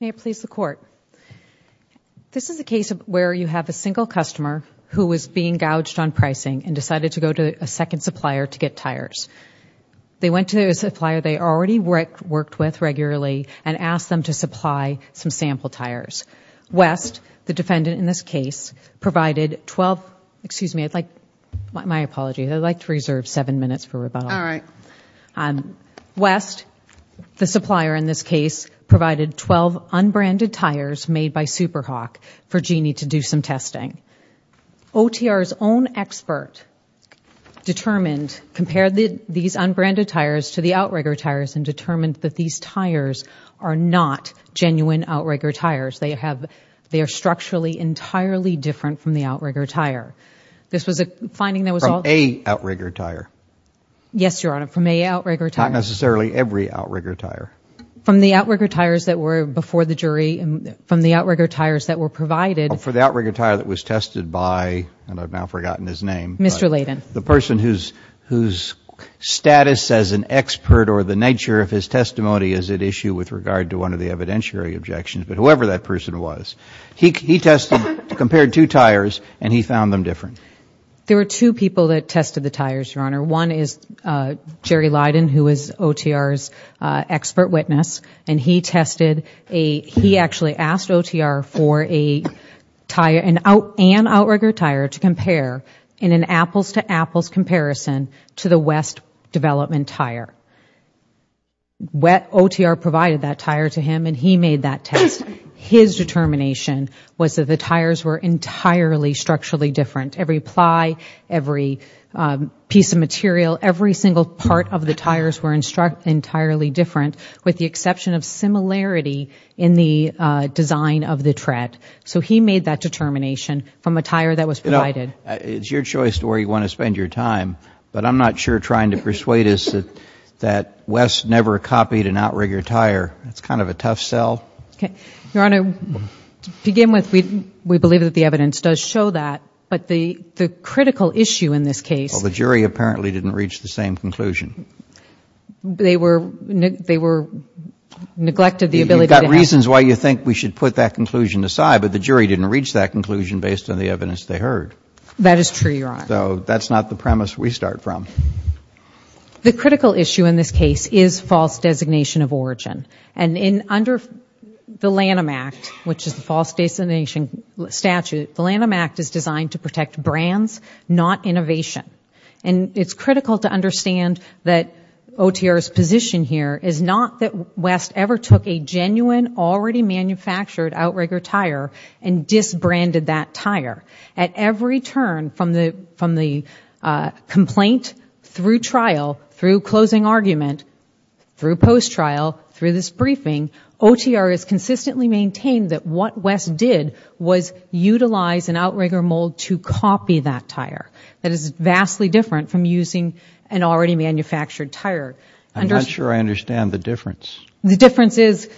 May it please the court. This is a case of where you have a single customer who was being gouged on pricing and decided to go to a second supplier to get tires. They went to a supplier they already worked with regularly and asked them to supply some sample tires. West, the defendant in this case, provided 12, excuse me, I'd like, my apology, I'd like to reserve seven minutes for rebuttal. West, the supplier in this case, provided 12 unbranded tires made by Super Hawk for Jeanne to do some testing. OTR's own expert determined, compared these unbranded tires to the outrigger tires and determined that these tires are not genuine outrigger tires. They have, they are structurally entirely different from the outrigger tire. This was a finding that was all... From a outrigger tire. Yes, Your Honor, from a outrigger tire. Not necessarily every outrigger tire. From the outrigger tires that were before the jury, from the outrigger tires that were provided... For the outrigger tire that was tested by, and I've now forgotten his name... Mr. Layden. The person whose, whose status as an expert or the nature of his testimony is at issue with regard to one of the evidentiary objections, but and he found them different. There were two people that tested the tires, Your Honor. One is Jerry Layden, who is OTR's expert witness, and he tested a, he actually asked OTR for a tire, an outrigger tire, to compare in an apples-to-apples comparison to the West development tire. Wet, OTR provided that tire to him and he made that test. His determination was that the tires were entirely structurally different. Every ply, every piece of material, every single part of the tires were in struck entirely different, with the exception of similarity in the design of the tread. So he made that determination from a tire that was provided. It's your choice to where you want to spend your time, but I'm not sure trying to persuade us that West never copied an outrigger tire. It's kind of a tough sell. Okay. Your Honor, to begin with, we, we believe that the evidence does show that, but the, the critical issue in this case. Well, the jury apparently didn't reach the same conclusion. They were, they were neglected the ability. You've got reasons why you think we should put that conclusion aside, but the jury didn't reach that conclusion based on the evidence they heard. That is true, Your Honor. So that's not the premise we start from. The critical issue in this case is false designation of origin. And in, under the Lanham Act, which is the false designation statute, the Lanham Act is designed to protect brands, not innovation. And it's critical to understand that OTR's position here is not that West ever took a genuine, already manufactured outrigger tire and disbranded that tire. At every turn from the, from the complaint, through trial, through closing argument, through post-trial, through this briefing, OTR has consistently maintained that what West did was utilize an outrigger mold to copy that tire. That is vastly different from using an already manufactured tire. I'm not sure I understand the difference. The difference is,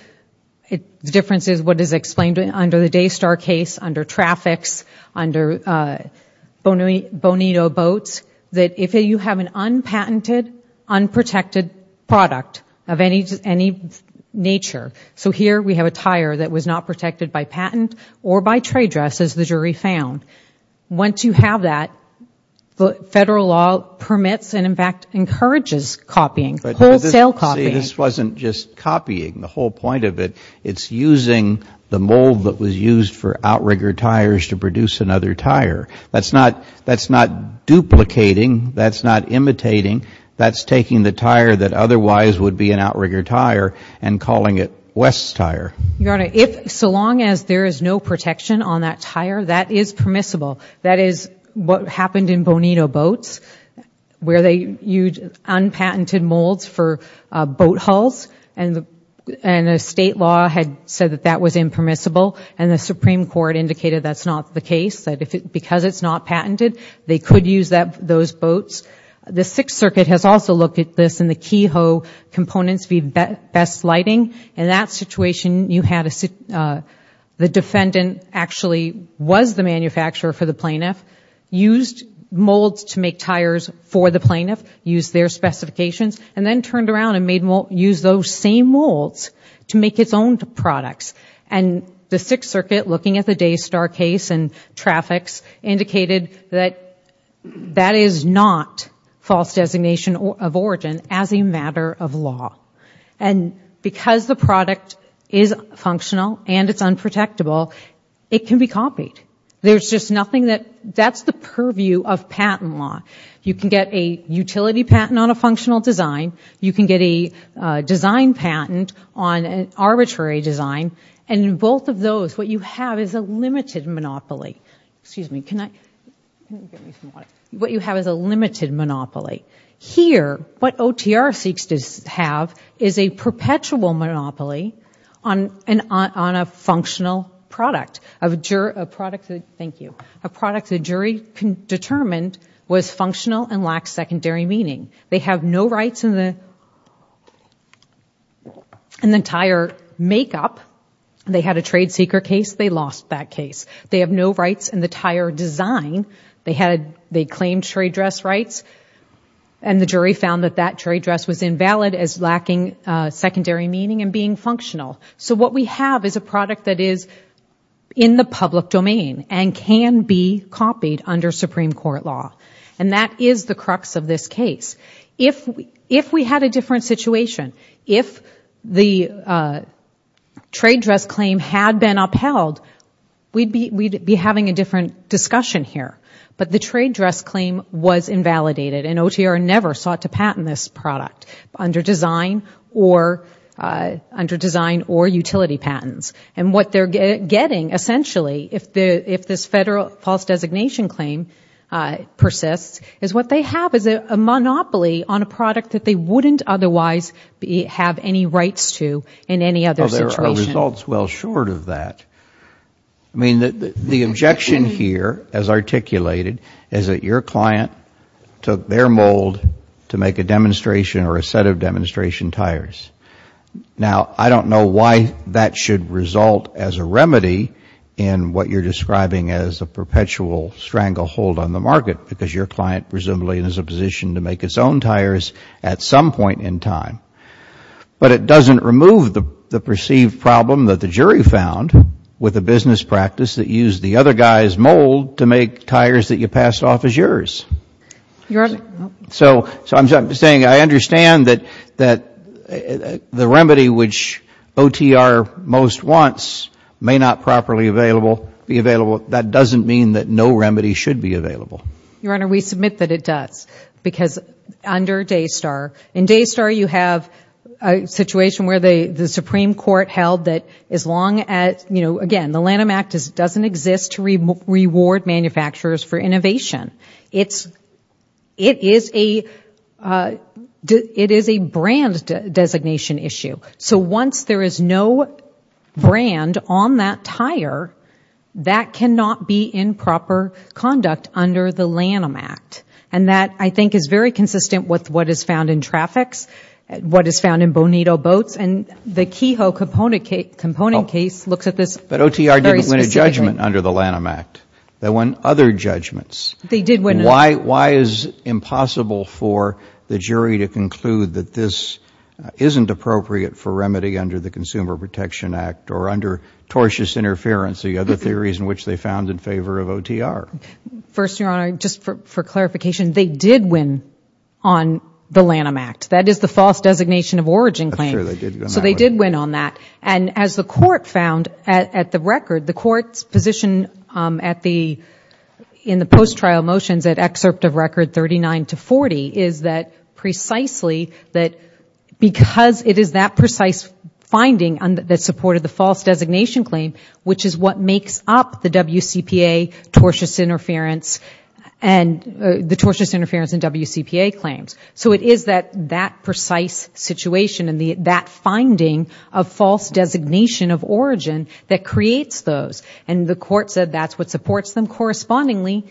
the difference is what is explained under the Daystar case, under traffics, under Bonito boats, that if you have an unpatented, unprotected product of any nature, so here we have a tire that was not protected by patent or by trade dress, as the jury found. Once you have that, federal law permits and, in fact, encourages copying. Wholesale copying. But this wasn't just copying. The whole point of it, it's using the mold that was used for outrigger tires to produce another tire. That's not, that's not duplicating, that's not imitating, that's taking the tire that otherwise would be an outrigger tire and calling it West's tire. Your Honor, if, so long as there is no protection on that tire, that is permissible. That is what happened in Bonito boats, where they used unpatented molds for boat hulls, and the state law had said that that was impermissible, and the Supreme Court indicated that's not the case, that if it, because it's not patented, they could use that, those boats. The Sixth Circuit has also looked at this in the Kehoe Components v. Best Lighting. In that situation, you had a, the defendant actually was the manufacturer for the plaintiff, used molds to make tires for the plaintiff, used their specifications, and then turned around and made, used those same molds to make its own products. And the Sixth Circuit, looking at the Daystar case and traffics, indicated that that is not false designation of origin as a matter of law. And because the product is functional and it's unprotectable, it can be copied. There's just nothing that, that's the purview of patent law. You can get a utility patent on a functional design, you can get a design patent on an arbitrary design, and in both of those, what you have is a limited monopoly. Excuse me, can I, can you get me some water? What you have is a limited monopoly. Here, what OTR seeks to have is a perpetual monopoly on a functional product, a product that, thank you, a product the jury determined was functional and lacked secondary meaning. They have no rights in the, in the tire makeup. They had a trade secret case, they lost that case. They have no rights in the tire design. They had, they claimed trade dress rights, and the jury found that that trade dress was invalid as lacking secondary meaning and being functional. So what we have is a product that is in the crux of this case. If, if we had a different situation, if the trade dress claim had been upheld, we'd be, we'd be having a different discussion here. But the trade dress claim was invalidated, and OTR never sought to patent this product under design or, under design or utility patents. And what they're getting, essentially, if the, if this federal false designation claim persists, is what they have is a, a monopoly on a product that they wouldn't otherwise be, have any rights to in any other situation. Well, there are results well short of that. I mean, the, the objection here, as articulated, is that your client took their mold to make a demonstration or a set of demonstration tires. Now, I don't know why that should result as a remedy in what you're describing as a perpetual stranglehold on the market, because your client presumably is in a position to make its own tires at some point in time. But it doesn't remove the, the perceived problem that the jury found with a business practice that used the other guy's mold to make tires that you passed off as yours. So I'm saying I understand that, that the remedy which OTR most wants may not properly available, be available. That doesn't mean that no remedy should be available. Your Honor, we submit that it does. Because under Daystar, in Daystar you have a situation where the, the Supreme Court held that as long as, you know, again, the Lanham Act doesn't exist to reward manufacturers for innovation. It's, it is a, it is a brand designation issue. So once there is no brand on that tire, that cannot be in proper conduct under the Lanham Act. And that, I think, is very consistent with what is found in Trafix, what is found in Bonito Boats, and the Kehoe component case, component case looks at this very specifically. But OTR didn't win a judgment under the Lanham Act. They won other judgments. They did win another. Why, why is it impossible for the jury to conclude that this isn't appropriate for remedy under the Consumer Protection Act or under tortious interference, the other theories in which they found in favor of OTR? First Your Honor, just for clarification, they did win on the Lanham Act. That is the false designation of origin claim. That's true, they did win on that one. So they did win on that. And as the Court found at, at the record, the Court's position at the, in the post-trial motions at excerpt of record 39 to 40, is that precisely that because it is that precise finding that supported the false designation claim, which is what makes up the WCPA tortious interference and, the tortious interference in WCPA claims. So it is that, that precise situation and that finding of false designation of origin that creates those. And the Court said that's what supports them. Correspondingly,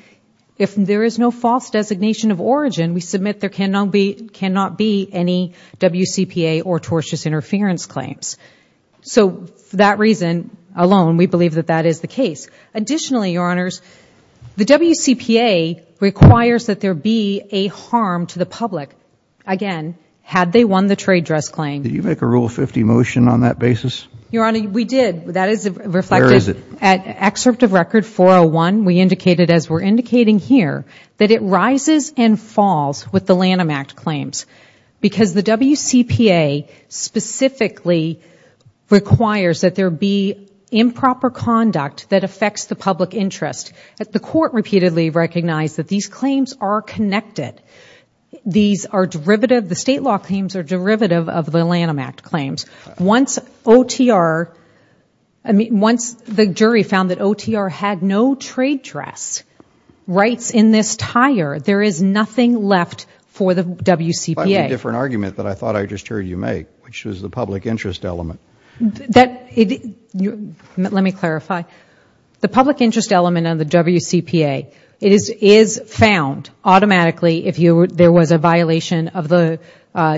if there is no false designation of origin, we submit there cannot be, cannot be any WCPA or tortious interference claims. So for that reason alone, we believe that that is the case. Additionally, Your Honors, the WCPA requires that there be a harm to the public, again, had they won the trade dress claim. Did you make a Rule 50 motion on that basis? Your Honor, we did. That is reflected at excerpt of record 401. We indicated as we're indicating here that it rises and falls with the Lanham Act claims because the WCPA specifically requires that there be improper conduct that affects the public interest. The Court repeatedly recognized that these claims are connected. These are derivative, the state law claims are derivative of the Lanham Act claims. Once OTR, I mean, once the jury found that OTR had no trade dress rights in this tire, there is nothing left for the WCPA. That's a different argument that I thought I just heard you make, which was the public interest element. Let me clarify. The public interest element of the WCPA, it is, is found automatically if there was a violation of the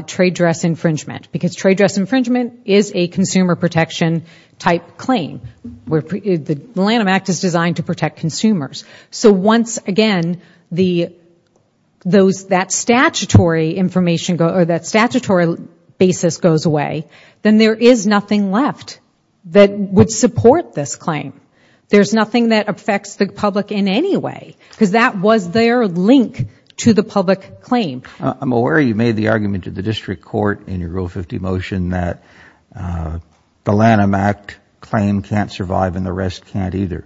trade dress infringement because trade dress infringement is a consumer protection type claim. The Lanham Act is designed to protect consumers. Once again, that statutory basis goes away, then there is nothing left that would support this claim. There is nothing that affects the public in any way because that was their link to the public claim. I'm aware you made the argument to the District Court in your Rule 50 motion that the Lanham Act claim can't survive and the rest can't either.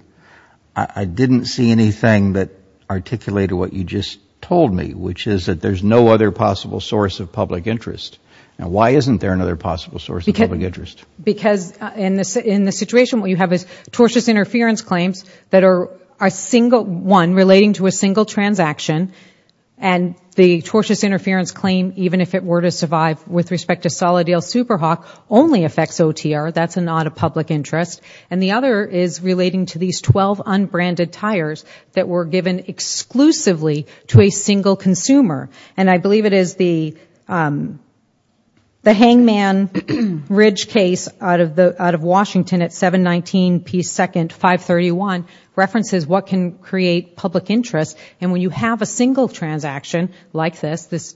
I didn't see anything that articulated what you just told me, which is that there is no other possible source of public interest. Why isn't there another possible source of public interest? Because in the situation where you have tortious interference claims that are a single one and the tortious interference claim, even if it were to survive with respect to Solid Deal SuperHawk, only affects OTR, that is not a public interest. The other is relating to these 12 unbranded tires that were given exclusively to a single consumer. I believe it is the Hangman Ridge case out of Washington at 719 P. 2nd, 531, references what can create public interest. When you have a single transaction like this,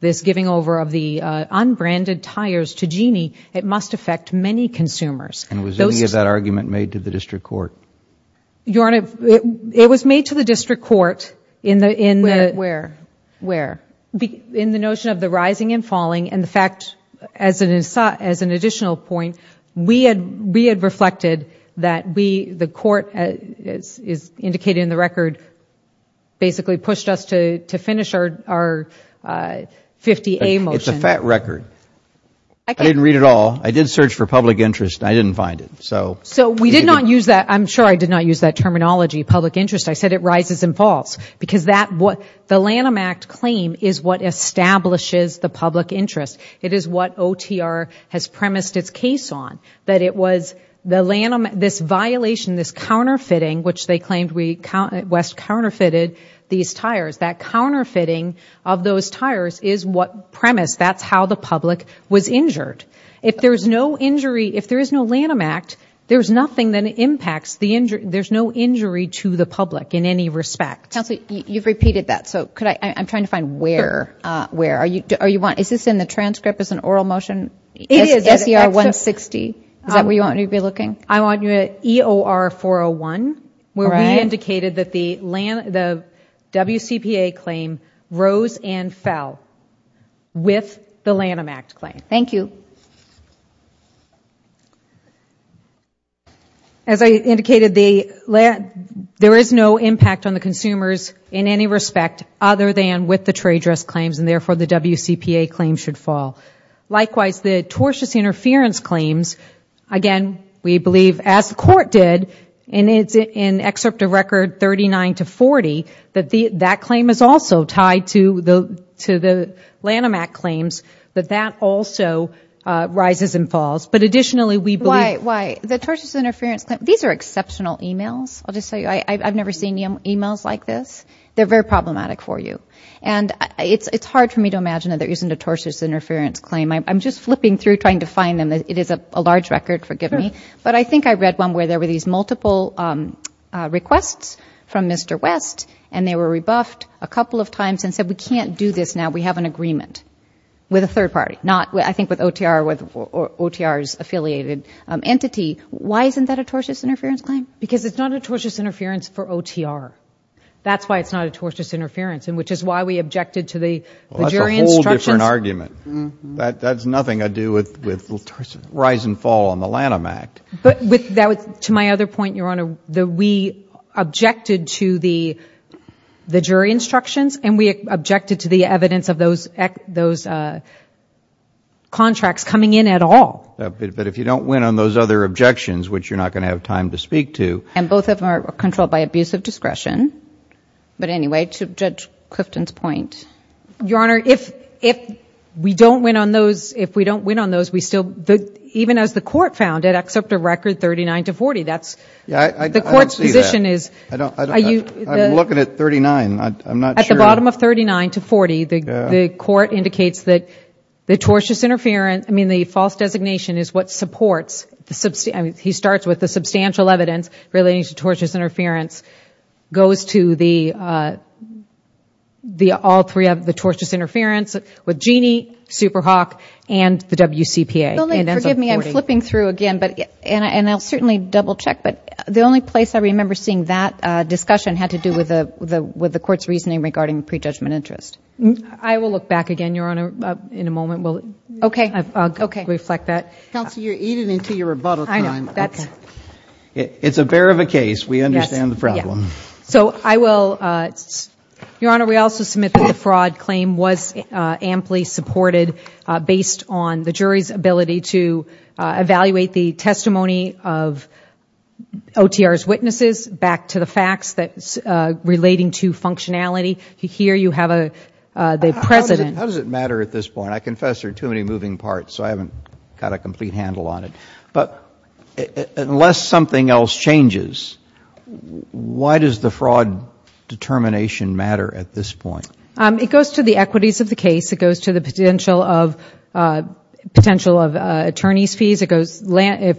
this giving over of the unbranded tires to Jeanne, it must affect many consumers. Was any of that argument made to the District Court? It was made to the District Court in the notion of the rising and falling. In fact, as an argument, the District Court basically pushed us to finish our 50A motion. It is a fat record. I didn't read it all. I did search for public interest and I didn't find it. I am sure I did not use that terminology, public interest. I said it rises and falls. The Lanham Act claim is what establishes the public interest. It is what OTR has premised its case on. This violation, this counterfeiting, which they claimed West counterfeited these tires, that counterfeiting of those tires is what premised how the public was injured. If there is no Lanham Act, there is nothing that impacts the injury. There is no injury to the public in any respect. You have repeated that. I am trying to find where. Is this in the transcript as an oral motion? It is. SER 160. Is that where you want me to be looking? I want you at EOR 401, where we indicated that the WCPA claim rose and fell with the Lanham Act claim. Thank you. As I indicated, there is no impact on the consumers in any respect other than with the tortious interference claims. Again, we believe, as the Court did in Excerpt of Record 39-40, that claim is also tied to the Lanham Act claims, that that also rises and falls. These are exceptional emails. I have never seen emails like this. They are very problematic for you. It is hard for me to imagine that they are using a tortious interference claim. I am just flipping through trying to find them. It is a large record. Forgive me. I think I read one where there were these multiple requests from Mr. West, and they were rebuffed a couple of times and said, we can't do this now. We have an agreement with a third party. I think with OTR, with OTR's affiliated entity. Why isn't that a tortious interference claim? Because it is not a tortious interference for OTR. That is why it is not a tortious interference and which is why we objected to the jury instructions. That is an argument. That has nothing to do with the rise and fall on the Lanham Act. To my other point, Your Honor, we objected to the jury instructions and we objected to the evidence of those contracts coming in at all. If you don't win on those other objections, which you are not going to have time to speak to. Both of them are controlled by abuse of discretion. But anyway, to Judge Clifton's point. Your Honor, if we don't win on those, if we don't win on those, even as the court found it, except a record 39 to 40, the court's position is I don't see that. I am looking at 39. I am not sure. At the bottom of 39 to 40, the court indicates that the tortious interference, I mean the false designation is what supports, he starts with the substantial evidence relating to the tortious interference with Jeanne, Super Hawk and the WCPA. Forgive me, I am flipping through again and I will certainly double check, but the only place I remember seeing that discussion had to do with the court's reasoning regarding pre-judgment interest. I will look back again, Your Honor, in a moment, I will reflect that. Counsel, you are eating into your rebuttal time. It's a bear of a case. We understand the problem. So I will, Your Honor, we also submit that the fraud claim was amply supported based on the jury's ability to evaluate the testimony of OTR's witnesses back to the facts relating to functionality. Here you have the President. How does it matter at this point? I confess there are too many moving parts, so I haven't got a complete handle on it, but unless something else changes, why does the fraud determination matter at this point? It goes to the equities of the case. It goes to the potential of attorney's fees.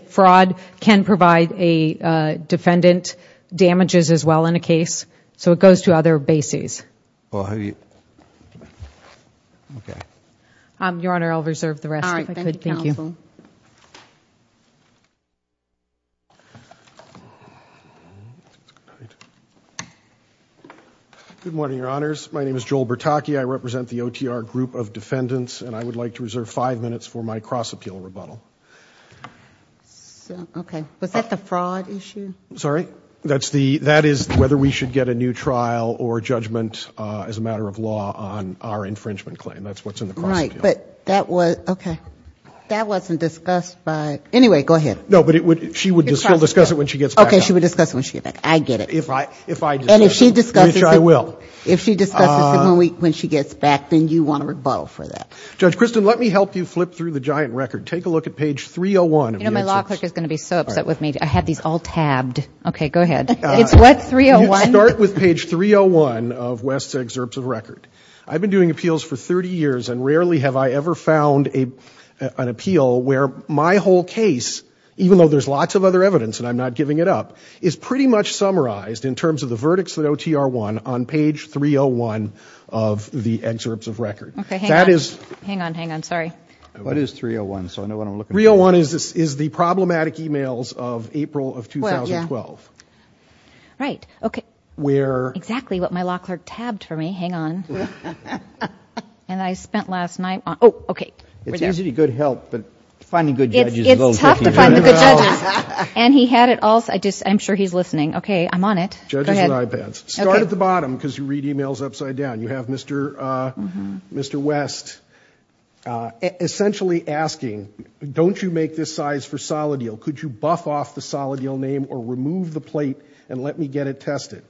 Fraud can provide a defendant damages as well in a case, so it goes to other bases. Your Honor, I will reserve the rest if I could, thank you. Good morning, Your Honors. My name is Joel Bertocchi. I represent the OTR group of defendants and I would like to reserve five minutes for my cross-appeal rebuttal. Was that the fraud issue? Sorry? That is whether we should get a new trial or judgment as a matter of law on our infringement claim. That's what's in the cross-appeal. Right, but that wasn't discussed by... Anyway, go ahead. No, but she will discuss it when she gets back. Okay, she will discuss it when she gets back. I get it. If I discuss it. And if she discusses it... Which I will. If she discusses it when she gets back, then you want a rebuttal for that. Judge Kristen, let me help you flip through the giant record. Take a look at page 301 of the exits. My law clerk is going to be so upset with me. I had these all tabbed. Okay, go ahead. It's what, 301? You start with page 301 of West's excerpts of record. I've been doing appeals for 30 years and rarely have I ever found an appeal where my whole case, even though there's lots of other evidence and I'm not giving it up, is pretty much summarized in terms of the verdicts of OTR 1 on page 301 of the excerpts of record. Okay, hang on. Hang on, hang on. Sorry. What is 301? So I know what I'm looking for. The real one is the problematic emails of April of 2012. Right, okay. Where... Exactly what my law clerk tabbed for me. Hang on. And I spent last night on... Oh, okay. It's usually good help, but finding good judges is a little tricky. It's tough to find good judges. And he had it all... I'm sure he's listening. Okay, I'm on it. Judges and iPads. Start at the bottom because you read emails upside down. You have Mr. West essentially asking, don't you make this size for Solid Deal? Could you buff off the Solid Deal name or remove the plate and let me get it tested?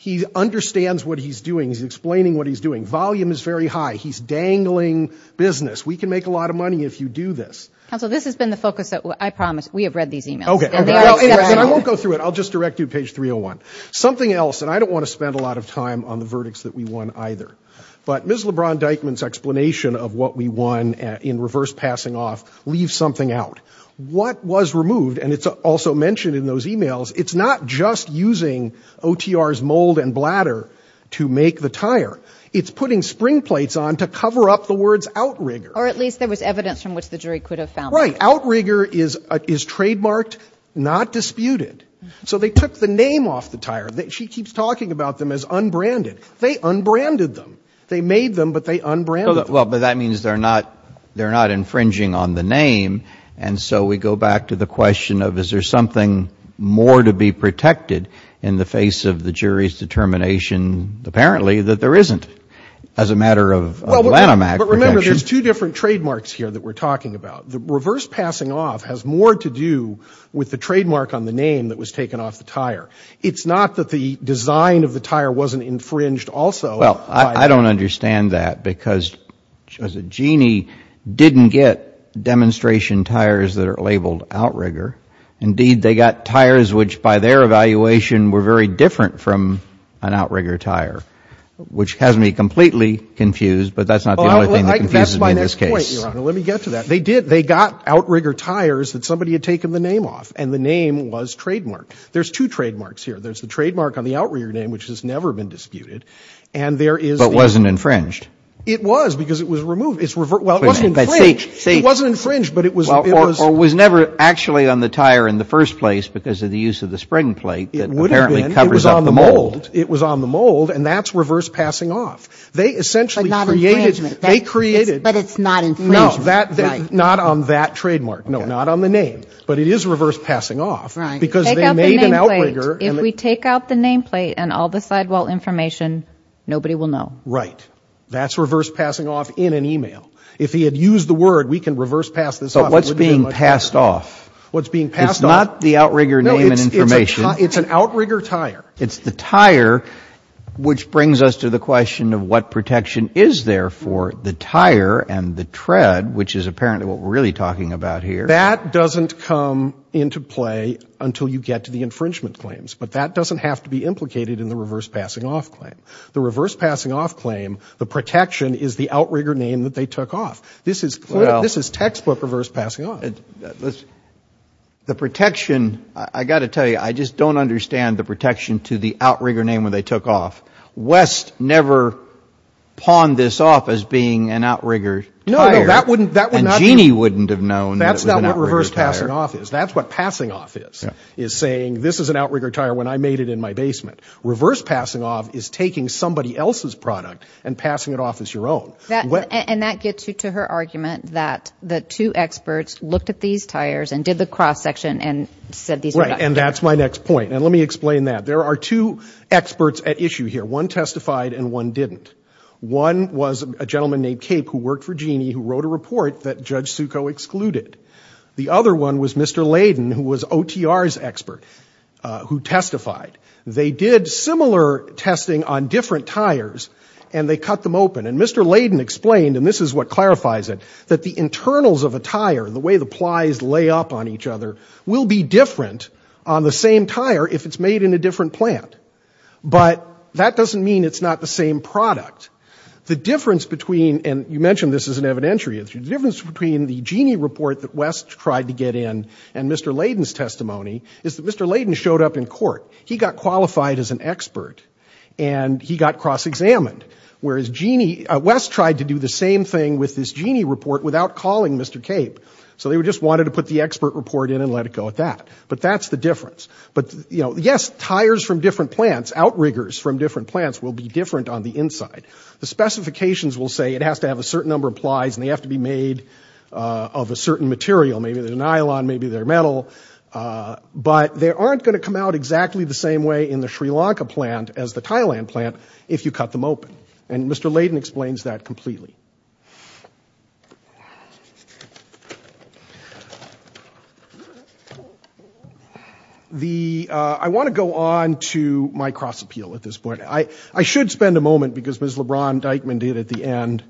He understands what he's doing. He's explaining what he's doing. Volume is very high. He's dangling business. We can make a lot of money if you do this. Counsel, this has been the focus that... I promise. We have read these emails. Okay. And they are... And I won't go through it. I'll just direct you to page 301. Something else, and I don't want to spend a lot of time on the verdicts that we won either. But Ms. LeBron-Dykeman's explanation of what we won in reverse passing off leaves something out. What was removed, and it's also mentioned in those emails, it's not just using OTR's mold and bladder to make the tire. It's putting spring plates on to cover up the words outrigger. Or at least there was evidence from which the jury could have found that. Right. Outrigger is trademarked, not disputed. So they took the name off the tire. She keeps talking about them as unbranded. They unbranded them. They made them, but they unbranded them. But that means they're not infringing on the name. And so we go back to the question of is there something more to be protected in the face of the jury's determination, apparently, that there isn't as a matter of Lanham Act protection. But remember, there's two different trademarks here that we're talking about. The reverse passing off has more to do with the trademark on the name that was taken off the tire. It's not that the design of the tire wasn't infringed also. Well, I don't understand that, because as a genie, didn't get demonstration tires that are labeled outrigger. Indeed, they got tires which by their evaluation were very different from an outrigger tire, which has me completely confused, but that's not the only thing that confuses me in this case. Well, that's my next point, Your Honor. Let me get to that. They got outrigger tires that somebody had taken the name off, and the name was trademarked. There's two trademarks here. There's the trademark on the outrigger name, which has never been disputed, and there is But wasn't infringed. It was, because it was removed. Well, it wasn't infringed, but it was Or was never actually on the tire in the first place because of the use of the spring plate that apparently covers up the mold. It was on the mold, and that's reverse passing off. They essentially created But not infringement. They created But it's not infringement. No, not on that trademark. No, not on the name. But it is reverse passing off, because they made an outrigger If we take out the name plate and all the sidewall information, nobody will know. Right. That's reverse passing off in an email. If he had used the word, we can reverse pass this off. But what's being passed off? What's being passed off? It's not the outrigger name and information. No, it's an outrigger tire. It's the tire, which brings us to the question of what protection is there for the tire and the tread, which is apparently what we're really talking about here. That doesn't come into play until you get to the infringement claims. But that doesn't have to be implicated in the reverse passing off claim. The reverse passing off claim, the protection is the outrigger name that they took off. This is textbook reverse passing off. The protection, I got to tell you, I just don't understand the protection to the outrigger name when they took off. West never pawned this off as being an outrigger tire. And Jeanne wouldn't have known that it was an outrigger tire. That's not what reverse passing off is. That's what passing off is, is saying this is an outrigger tire when I made it in my basement. Reverse passing off is taking somebody else's product and passing it off as your own. And that gets you to her argument that the two experts looked at these tires and did the cross section and said these were not. And that's my next point. And let me explain that. There are two experts at issue here. One testified and one didn't. One was a gentleman named Cape who worked for Jeanne who wrote a report that Judge Succo excluded. The other one was Mr. Layden who was OTR's expert who testified. They did similar testing on different tires and they cut them open. And Mr. Layden explained, and this is what clarifies it, that the internals of a tire, the way the plies lay up on each other, will be different on the same tire if it's made in a different plant. But that doesn't mean it's not the same product. The difference between, and you mentioned this as an evidentiary issue, the difference between the Jeanne report that West tried to get in and Mr. Layden's testimony is that Mr. Layden showed up in court. He got qualified as an expert and he got cross examined. Whereas Jeanne, West tried to do the same thing with this Jeanne report without calling Mr. Cape. So they just wanted to put the expert report in and let it go at that. But that's the difference. Yes, tires from different plants, outriggers from different plants will be different on the inside. The specifications will say it has to have a certain number of plies and they have to be made of a certain material. Maybe they're nylon, maybe they're metal. But they aren't going to come out exactly the same way in the Sri Lanka plant as the Thailand plant if you cut them open. And Mr. Layden explains that completely. I want to go on to my cross appeal at this point. I should spend a moment, because Ms. LeBron-Dykeman did at the end,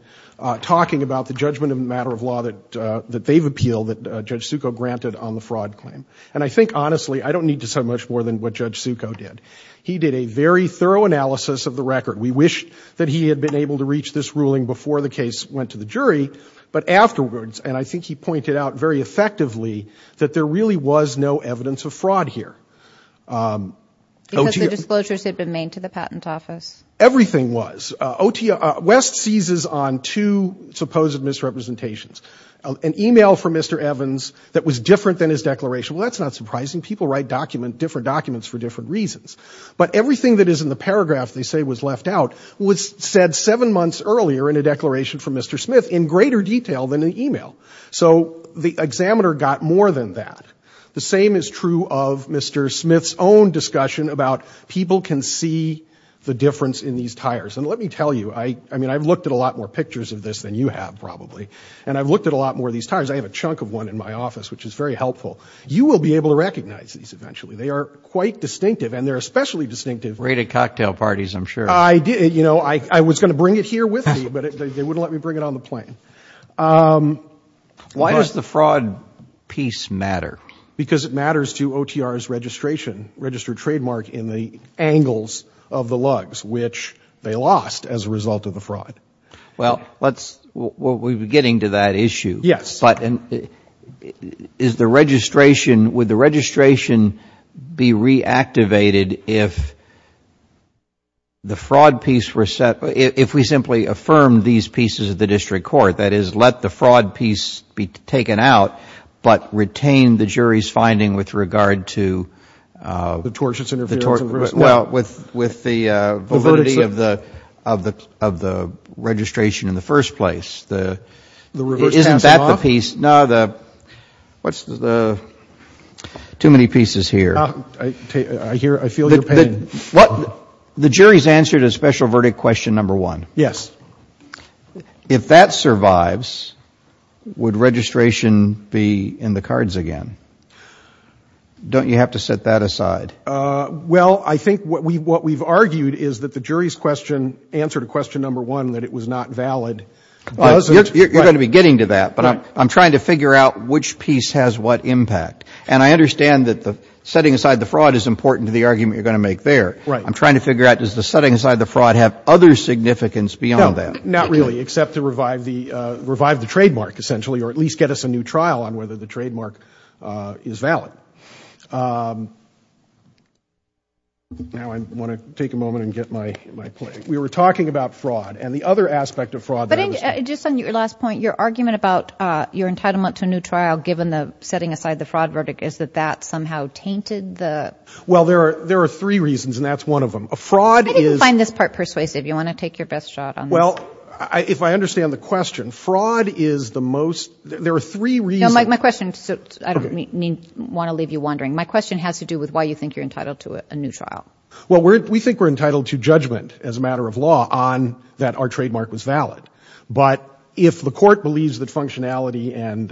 talking about the judgment of the matter of law that they've appealed, that Judge Succo granted on the fraud claim. And I think, honestly, I don't need to say much more than what Judge Succo did. He did a very thorough analysis of the record. We wish that he had been able to reach this ruling before the case was brought before the court. But afterwards, and I think he pointed out very effectively, that there really was no evidence of fraud here. Because the disclosures had been made to the patent office. Everything was. West seizes on two supposed misrepresentations. An email from Mr. Evans that was different than his declaration. Well, that's not surprising. People write different documents for different reasons. But everything that is in the paragraph they say was left out was said seven months earlier in a declaration from Mr. Smith in greater detail than an email. So the examiner got more than that. The same is true of Mr. Smith's own discussion about people can see the difference in these tires. And let me tell you, I mean, I've looked at a lot more pictures of this than you have probably. And I've looked at a lot more of these tires. I have a chunk of one in my office, which is very helpful. You will be able to recognize these eventually. They are quite distinctive. And they're especially distinctive. Rated cocktail parties, I'm sure. I was going to bring it here with me, but they wouldn't let me bring it on the plane. Why does the fraud piece matter? Because it matters to OTR's registration, registered trademark in the angles of the lugs, which they lost as a result of the fraud. Well, we're getting to that issue. Yes. But is the registration, would the registration be reactivated if the fraud piece were set, if we simply affirmed these pieces of the district court? That is, let the fraud piece be taken out, but retain the jury's finding with regard to. The tortious interference. Well, with the validity of the registration in the first place. Isn't that the piece? No, the, what's the, too many pieces here. I hear, I feel your pain. The jury's answer to special verdict question number one. Yes. If that survives, would registration be in the cards again? Don't you have to set that aside? Well, I think what we've argued is that the jury's question, answer to question number one, that it was not valid. You're going to be getting to that, but I'm trying to figure out which piece has what impact. And I understand that the setting aside the fraud is important to the argument you're going to make there. Right. I'm trying to figure out, does the setting aside the fraud have other significance beyond that? Not really, except to revive the trademark, essentially, or at least get us a new trial on whether the trademark is valid. Now I want to take a moment and get my play. We were talking about fraud and the other aspect of fraud. Just on your last point, your argument about your entitlement to a new trial, given the setting aside the fraud verdict, is that that somehow tainted the... Well, there are three reasons, and that's one of them. A fraud is... I didn't find this part persuasive. You want to take your best shot on this? Well, if I understand the question, fraud is the most, there are three reasons... No, my question, I don't want to leave you wondering. My question has to do with why you think you're entitled to a new trial. Well, we think we're entitled to judgment, as a matter of law, on that our trademark was valid. But if the court believes that functionality and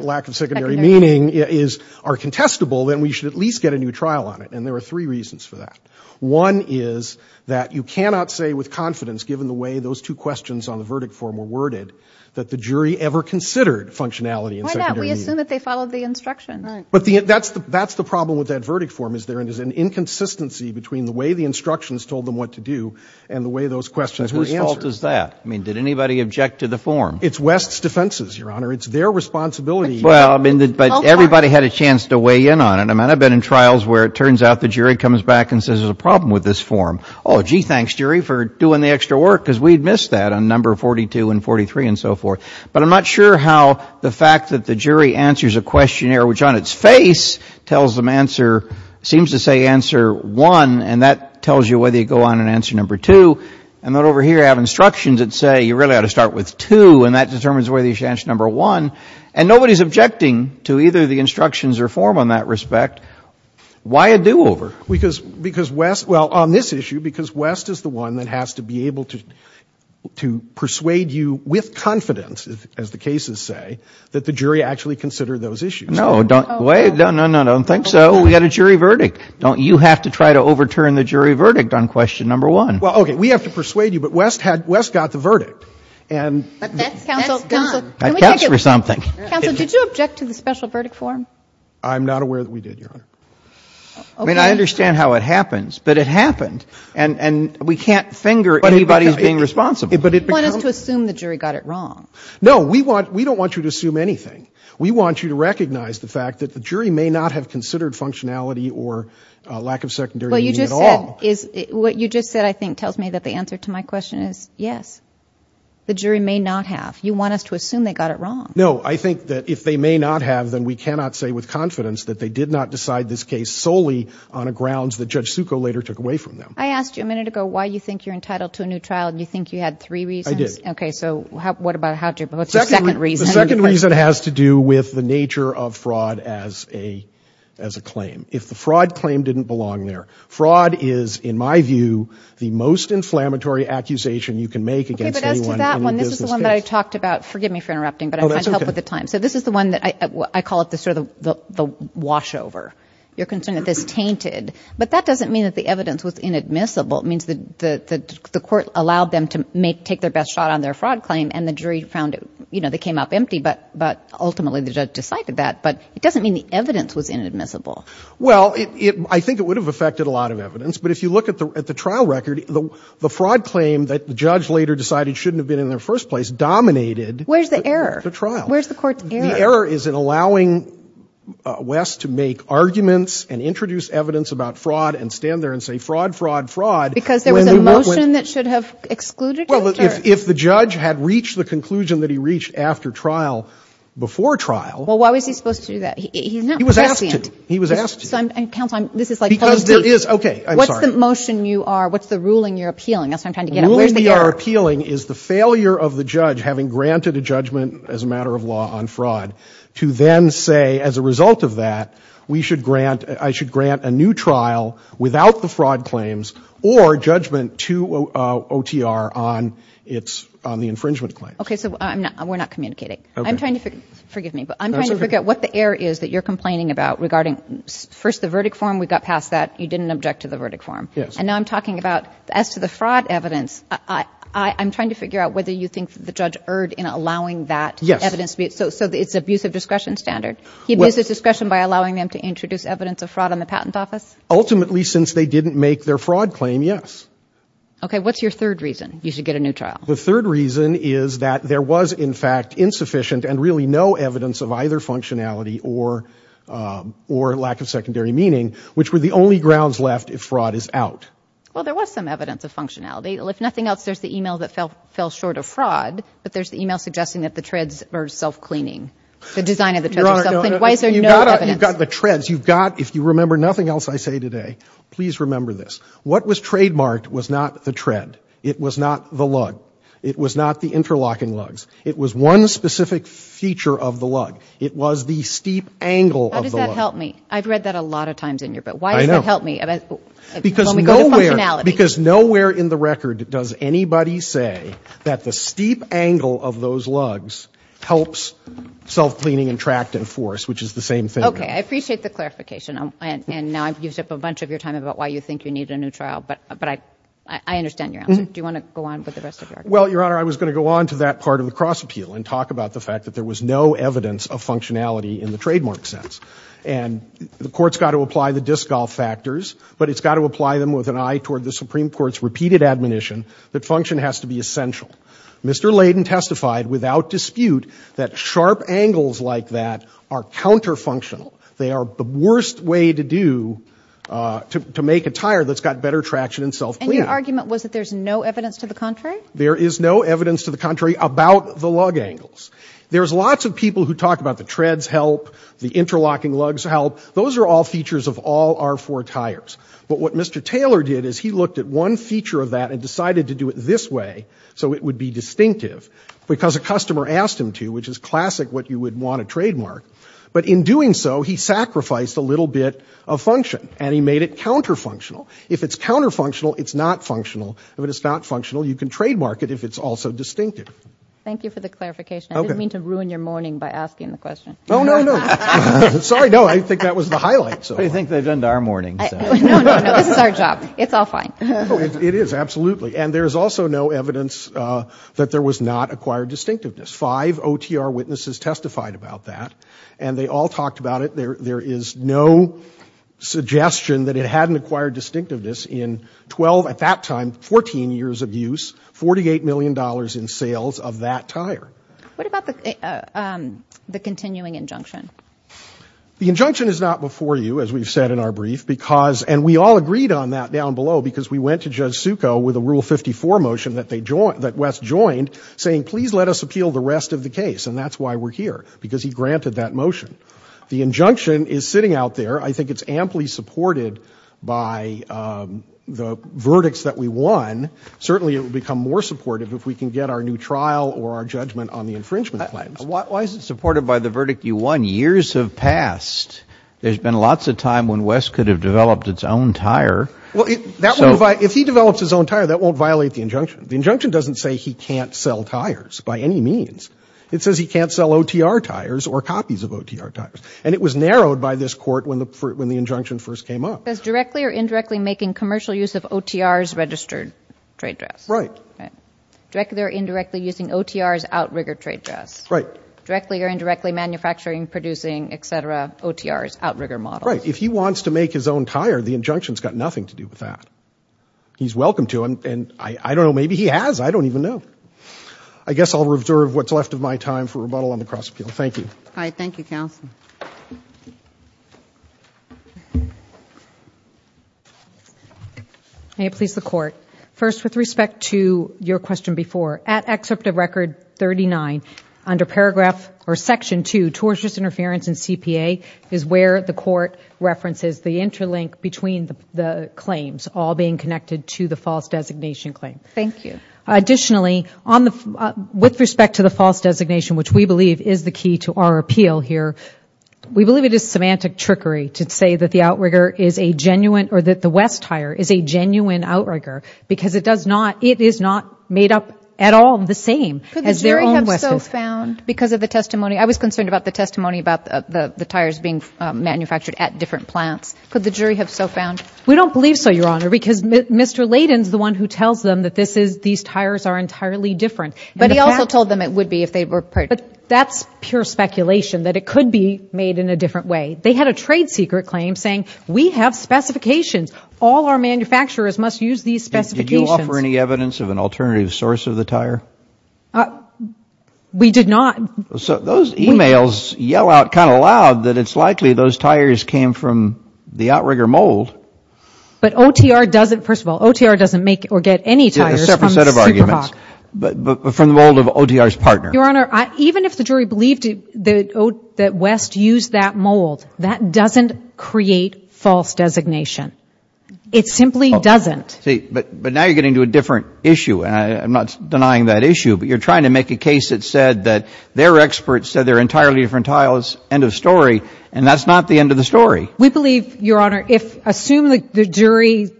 lack of secondary meaning are contestable, then we should at least get a new trial on it, and there are three reasons for that. One is that you cannot say with confidence, given the way those two questions on the verdict form were worded, that the jury ever considered functionality and secondary meaning. I assume that they followed the instruction. But that's the problem with that verdict form, is there an inconsistency between the way the instructions told them what to do and the way those questions were answered. Whose fault is that? I mean, did anybody object to the form? It's West's defenses, Your Honor. It's their responsibility. Well, I mean, but everybody had a chance to weigh in on it. I mean, I've been in trials where it turns out the jury comes back and says, there's a problem with this form. Oh, gee, thanks, jury, for doing the extra work, because we'd missed that on number 42 and 43 and so forth. But I'm not sure how the fact that the jury answers a questionnaire which, on its face, tells them answer, seems to say answer one, and that tells you whether you go on to answer number two, and then over here I have instructions that say, you really ought to start with two, and that determines whether you should answer number one. And nobody's objecting to either the instructions or form on that respect. Why a do-over? Because West, well, on this issue, because West is the one that has to be able to say, as the cases say, that the jury actually considered those issues. No, don't think so. We had a jury verdict. You have to try to overturn the jury verdict on question number one. Well, okay, we have to persuade you, but West got the verdict. But that's done. That counts for something. Counsel, did you object to the special verdict form? I'm not aware that we did, Your Honor. I mean, I understand how it happens, but it happened. And we can't finger anybody as being responsible. You want us to assume the jury got it wrong. No, we don't want you to assume anything. We want you to recognize the fact that the jury may not have considered functionality or lack of secondary meaning at all. What you just said, I think, tells me that the answer to my question is yes. The jury may not have. You want us to assume they got it wrong. No, I think that if they may not have, then we cannot say with confidence that they did not decide this case solely on grounds that Judge Succo later took away from them. I asked you a minute ago why you think you're entitled to a new trial, and you think you had three reasons? I did. Okay, so what about the second reason? The second reason has to do with the nature of fraud as a claim. If the fraud claim didn't belong there. Fraud is, in my view, the most inflammatory accusation you can make against anyone in a business case. Okay, but as to that one, this is the one that I talked about. Forgive me for interrupting, but I'm trying to help with the time. So this is the one that I call sort of the washover. You're concerned that this tainted. But that doesn't mean that the evidence was inadmissible. It means that the court allowed them to take their best shot on their fraud claim, and the jury found it. You know, they came up empty, but ultimately the judge decided that. But it doesn't mean the evidence was inadmissible. Well, I think it would have affected a lot of evidence. But if you look at the trial record, the fraud claim that the judge later decided shouldn't have been in the first place dominated the trial. Where's the error? Where's the court's error? The error is in allowing West to make arguments and introduce evidence about fraud and stand there and say fraud, fraud, fraud. Because there was a motion that should have excluded it? Well, if the judge had reached the conclusion that he reached after trial, before trial. Well, why was he supposed to do that? He's not prescient. He was asked to. He was asked to. And counsel, this is like policy. Because there is, okay, I'm sorry. What's the motion you are, what's the ruling you're appealing? That's what I'm trying to get at. Where's the error? The ruling we are appealing is the failure of the judge, having granted a judgment as a matter of law on fraud, to then say as a result of that, we should grant, I should grant a new trial without the fraud claims, or judgment to OTR on the infringement claims. Okay, so we're not communicating. Okay. I'm trying to figure, forgive me, but I'm trying to figure out what the error is that you're complaining about regarding first the verdict form. We got past that. You didn't object to the verdict form. Yes. And now I'm talking about as to the fraud evidence, I'm trying to figure out whether you think the judge erred in allowing that evidence. Yes. So it's abuse of discretion standard? He abuses discretion by allowing them to introduce evidence of fraud on the patent office? Ultimately, since they didn't make their fraud claim, yes. Okay, what's your third reason you should get a new trial? The third reason is that there was, in fact, insufficient and really no evidence of either functionality or lack of secondary meaning, which were the only grounds left if fraud is out. Well, there was some evidence of functionality. If nothing else, there's the email that fell short of fraud, but there's the email suggesting that the treads were self-cleaning, the design of the treads were self-cleaning. Why is there no evidence? You've got the treads. If you remember nothing else I say today, please remember this. What was trademarked was not the tread. It was not the lug. It was not the interlocking lugs. It was one specific feature of the lug. It was the steep angle of the lug. How does that help me? I've read that a lot of times in your book. I know. Why does that help me when we go to functionality? Because nowhere in the record does anybody say that the steep angle of those lugs helps self-cleaning and tract and force, which is the same thing. Okay. I appreciate the clarification. And now I've used up a bunch of your time about why you think you need a new trial, but I understand your answer. Do you want to go on with the rest of your argument? Well, Your Honor, I was going to go on to that part of the cross-appeal and talk about the fact that there was no evidence of functionality in the trademark sense. And the Court's got to apply the disc golf factors, but it's got to apply them with an eye toward the Supreme Court's repeated admonition that function has to be essential. Mr. Layden testified without dispute that sharp angles like that are counter-functional. They are the worst way to do, to make a tire that's got better traction and self-cleaning. And your argument was that there's no evidence to the contrary? There is no evidence to the contrary about the lug angles. There's lots of people who talk about the treads help, the interlocking lugs help. Those are all features of all R4 tires. But what Mr. Taylor did is he looked at one feature of that and decided to do it this way so it would be distinctive, because a customer asked him to, which is classic what you would want to trademark. But in doing so, he sacrificed a little bit of function, and he made it counter-functional. If it's counter-functional, it's not functional. If it's not functional, you can trademark it if it's also distinctive. Thank you for the clarification. I didn't mean to ruin your morning by asking the question. Oh, no, no. Sorry. No, I think that was the highlight. What do you think they've done to our morning? No, no, no. This is our job. It's all fine. It is, absolutely. And there's also no evidence that there was not acquired distinctiveness. Five OTR witnesses testified about that, and they all talked about it. There is no suggestion that it hadn't acquired distinctiveness in 12, at that time, 14 years of use, $48 million in sales of that tire. What about the continuing injunction? The injunction is not before you, as we've said in our brief, and we all agreed on that down below because we went to Judge Succo with a Rule 54 motion that Wes joined, saying, please let us appeal the rest of the case, and that's why we're here, because he granted that motion. The injunction is sitting out there. I think it's amply supported by the verdicts that we won. Certainly, it will become more supportive if we can get our new trial or our judgment on the infringement claims. Why is it supported by the verdict you won? Years have passed. There's been lots of time when Wes could have developed its own tire. If he develops his own tire, that won't violate the injunction. The injunction doesn't say he can't sell tires by any means. It says he can't sell OTR tires or copies of OTR tires. And it was narrowed by this Court when the injunction first came up. It says directly or indirectly making commercial use of OTR's registered trade dress. Right. Directly or indirectly using OTR's outrigger trade dress. Right. Directly or indirectly manufacturing, producing, et cetera, OTR's outrigger models. Right. If he wants to make his own tire, the injunction's got nothing to do with that. He's welcome to, and I don't know, maybe he has. I don't even know. I guess I'll reserve what's left of my time for rebuttal on the cross-appeal. Thank you. All right. Thank you, counsel. May it please the Court. First, with respect to your question before, at Excerpt of Record 39, under paragraph or Section 2, tortious interference in CPA is where the Court references the interlink between the claims, all being connected to the false designation claim. Thank you. Additionally, with respect to the false designation, which we believe is the key to our appeal here, we believe it is semantic trickery to say that the outrigger is a genuine, or that the West tire is a genuine outrigger, because it does not, it is not made up at all the same. Could the jury have so found, because of the testimony, I was concerned about the testimony about the tires being manufactured at different plants, could the jury have so found? We don't believe so, Your Honor, because Mr. Layden's the one who tells them that this is, these tires are entirely different. But he also told them it would be if they were purchased. But that's pure speculation, that it could be made in a different way. They had a trade secret claim saying, we have specifications. All our manufacturers must use these specifications. Did you offer any evidence of an alternative source of the tire? We did not. So those emails yell out kind of loud that it's likely those tires came from the outrigger mold. But OTR doesn't, first of all, OTR doesn't make or get any tires from Super Hawk. A separate set of arguments. But from the mold of OTR's partner. Your Honor, even if the jury believed that West used that mold, that doesn't create false designation. It simply doesn't. But now you're getting to a different issue. And I'm not denying that issue. But you're trying to make a case that said that their experts said they're entirely different tires. End of story. And that's not the end of the story. We believe, Your Honor, if, assume the jury's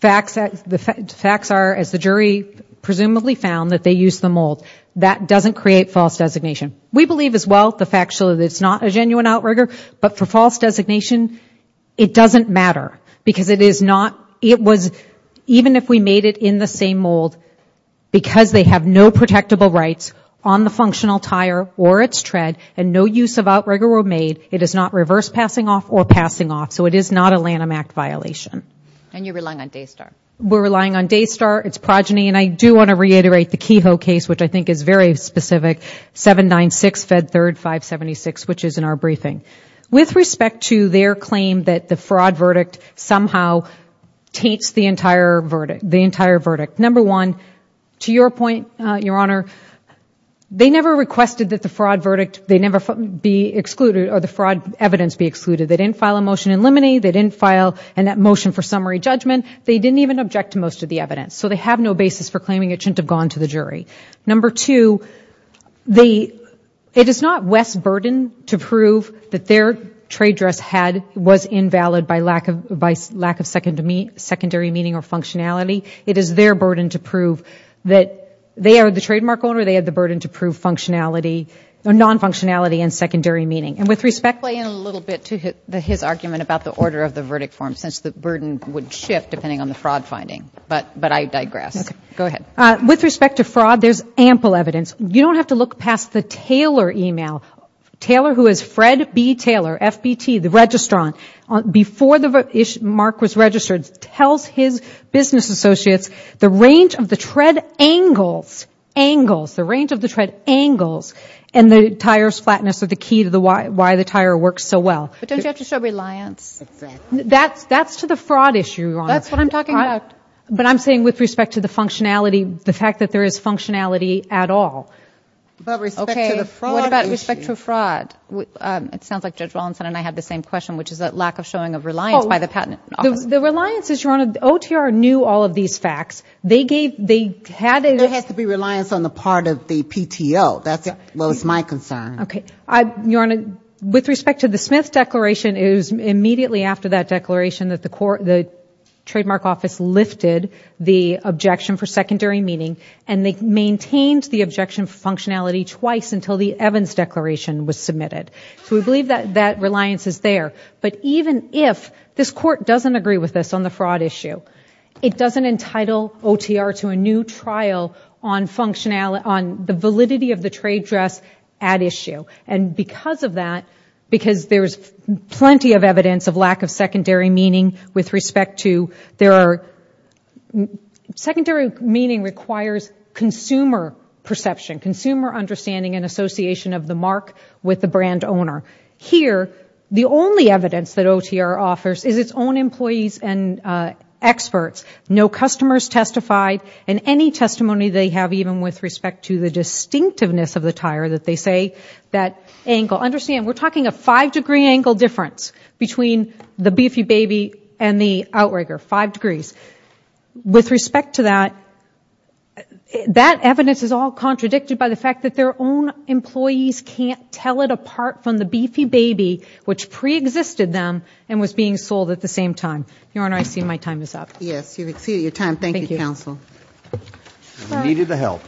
facts are, as the jury presumably found, that they used the mold. That doesn't create false designation. We believe as well, the fact that it's not a genuine outrigger. But for false designation, it doesn't matter. Because it is not, it was, even if we made it in the same mold, because they have no protectable rights on the functional tire or its tread, and no use of outrigger were made, it is not reverse passing off or passing off. So it is not a Lanham Act violation. And you're relying on Daystar? We're relying on Daystar. It's progeny. And I do want to reiterate the Kehoe case, which I think is very specific, 796 Fed 3rd 576, which is in our briefing. With respect to their claim that the fraud verdict somehow taints the entire verdict. Number one, to your point, Your Honor, they never requested that the fraud verdict, they never be excluded, or the fraud evidence be excluded. They didn't file a motion in limine. They didn't file a motion for summary judgment. They didn't even object to most of the evidence. So they have no basis for claiming it shouldn't have gone to the jury. Number two, the, it is not West's burden to prove that their trade dress had, was invalid by lack of, by lack of secondary meaning or functionality. It is their burden to prove that they are the trademark owner. They had the burden to prove functionality, or non-functionality and secondary meaning. And with respect. Play in a little bit to his argument about the order of the verdict form, since the burden would shift depending on the fraud finding. But, but I digress. Okay. Go ahead. With respect to fraud, there's ample evidence. You don't have to look past the Taylor email. Taylor, who is Fred B. Taylor, FBT, the registrant, before the issue, Mark was registered, tells his business associates the range of the tread angles, angles, the range of the tread angles and the tire's flatness are the key to the why, why the tire works so well. But don't you have to show reliance? That's, that's to the fraud issue, Your Honor. That's what I'm talking about. But I'm saying with respect to the functionality, the fact that there is functionality at all. But respect to the fraud issue. Okay. What about respect to fraud? It sounds like Judge Wallinson and I had the same question, which is that lack of showing of reliance by the patent office. The reliance is, Your Honor, OTR knew all of these facts. They gave, they had a. There has to be reliance on the part of the PTO. That's, well, it's my concern. Okay. Your Honor, with respect to the Smith declaration, it was immediately after that declaration that the court, the trademark office lifted the objection for secondary meaning and they maintained the objection for functionality twice until the Evans declaration was submitted. So we believe that, that reliance is there. But even if this court doesn't agree with this on the fraud issue, it doesn't entitle OTR to a new trial on functionality, on the validity of the trade dress at issue. And because of that, because there's plenty of evidence of lack of secondary meaning with respect to, there are, secondary meaning requires consumer perception, consumer understanding and association of the mark with the brand owner. Here, the only evidence that OTR offers is its own employees and experts. No customers testified and any testimony they have even with respect to the distinctiveness of the tire that they say that angle, understand we're talking a five degree angle difference between the Beefy Baby and the Outrigger, five degrees. With respect to that, that evidence is all contradicted by the fact that their own employees can't tell it apart from the Beefy Baby, which preexisted them and was being sold at the same time. Your Honor, I see my time is up. Yes, you've exceeded your time. Thank you, counsel. I needed the help.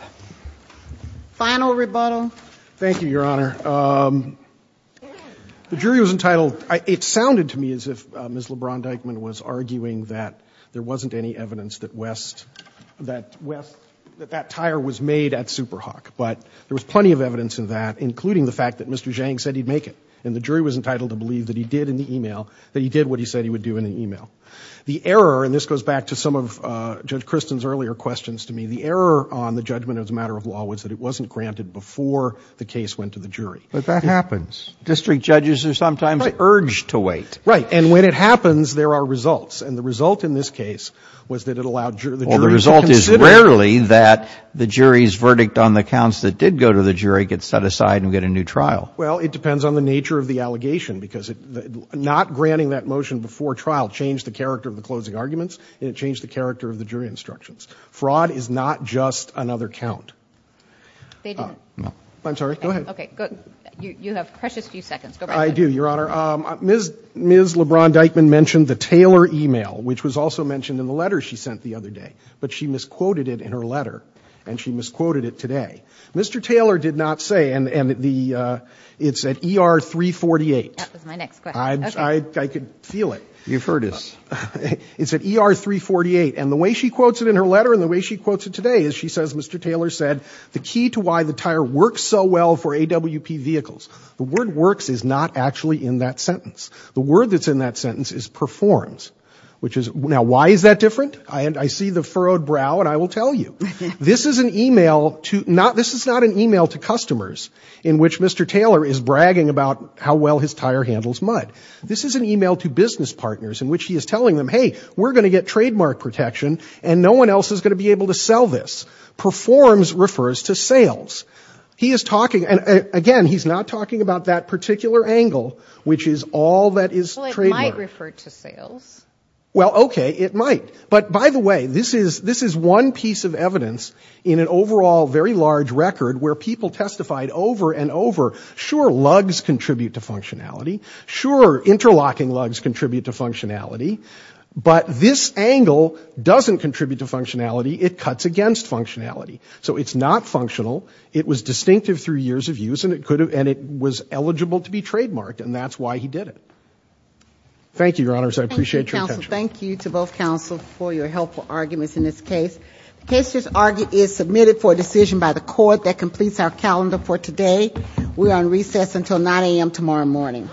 Final rebuttal. Thank you, Your Honor. The jury was entitled, it sounded to me as if Ms. LeBron-Dykeman was arguing that there wasn't any evidence that West, that West, that that tire was made at Superhawk. But there was plenty of evidence of that, including the fact that Mr. Zhang said he'd make it. And the jury was entitled to believe that he did in the email, that he did what he said he would do in the email. The error, and this goes back to some of Judge Kristen's earlier questions to me, the error on the judgment as a matter of law was that it wasn't granted before the case went to the jury. But that happens. District judges are sometimes urged to wait. Right. And when it happens, there are results. And the result in this case was that it allowed the jury to consider. Well, the result is rarely that the jury's verdict on the counts that did go to the jury gets set aside and we get a new trial. Well, it depends on the nature of the allegation, because not granting that motion before trial changed the character of the closing arguments and it changed the character of the jury instructions. Fraud is not just another count. They didn't. I'm sorry. Go ahead. Okay. You have precious few seconds. Go right ahead. I do, Your Honor. Ms. LeBron-Dykeman mentioned the Taylor email, which was also mentioned in the letter she sent the other day. But she misquoted it in her letter. And she misquoted it today. Mr. Taylor did not say, and it's at ER 348. That was my next question. I could feel it. You've heard us. It's at ER 348. And the way she quotes it in her letter and the way she quotes it today is she says, Mr. Taylor said, the key to why the tire works so well for AWP vehicles. The word works is not actually in that sentence. The word that's in that sentence is performs. Now, why is that different? I see the furrowed brow and I will tell you. This is not an email to customers in which Mr. Taylor is bragging about how well his tire handles mud. This is an email to business partners in which he is telling them, hey, we're going to get trademark protection and no one else is going to be able to sell this. Performs refers to sales. He is talking, and again, he's not talking about that particular angle, which is all that is trademark. Well, it might refer to sales. Well, okay, it might. But by the way, this is one piece of evidence in an overall very large record where people testified over and over, sure, lugs contribute to functionality. Sure, interlocking lugs contribute to functionality. But this angle doesn't contribute to functionality. It cuts against functionality. So it's not functional. It was distinctive through years of use, and it was eligible to be trademarked, and that's why he did it. Thank you, Your Honors. I appreciate your attention. Thank you, counsel. Thank you to both counsel for your helpful arguments in this case. The case is submitted for decision by the court that completes our calendar for today. We are on recess until 9 a.m. tomorrow morning.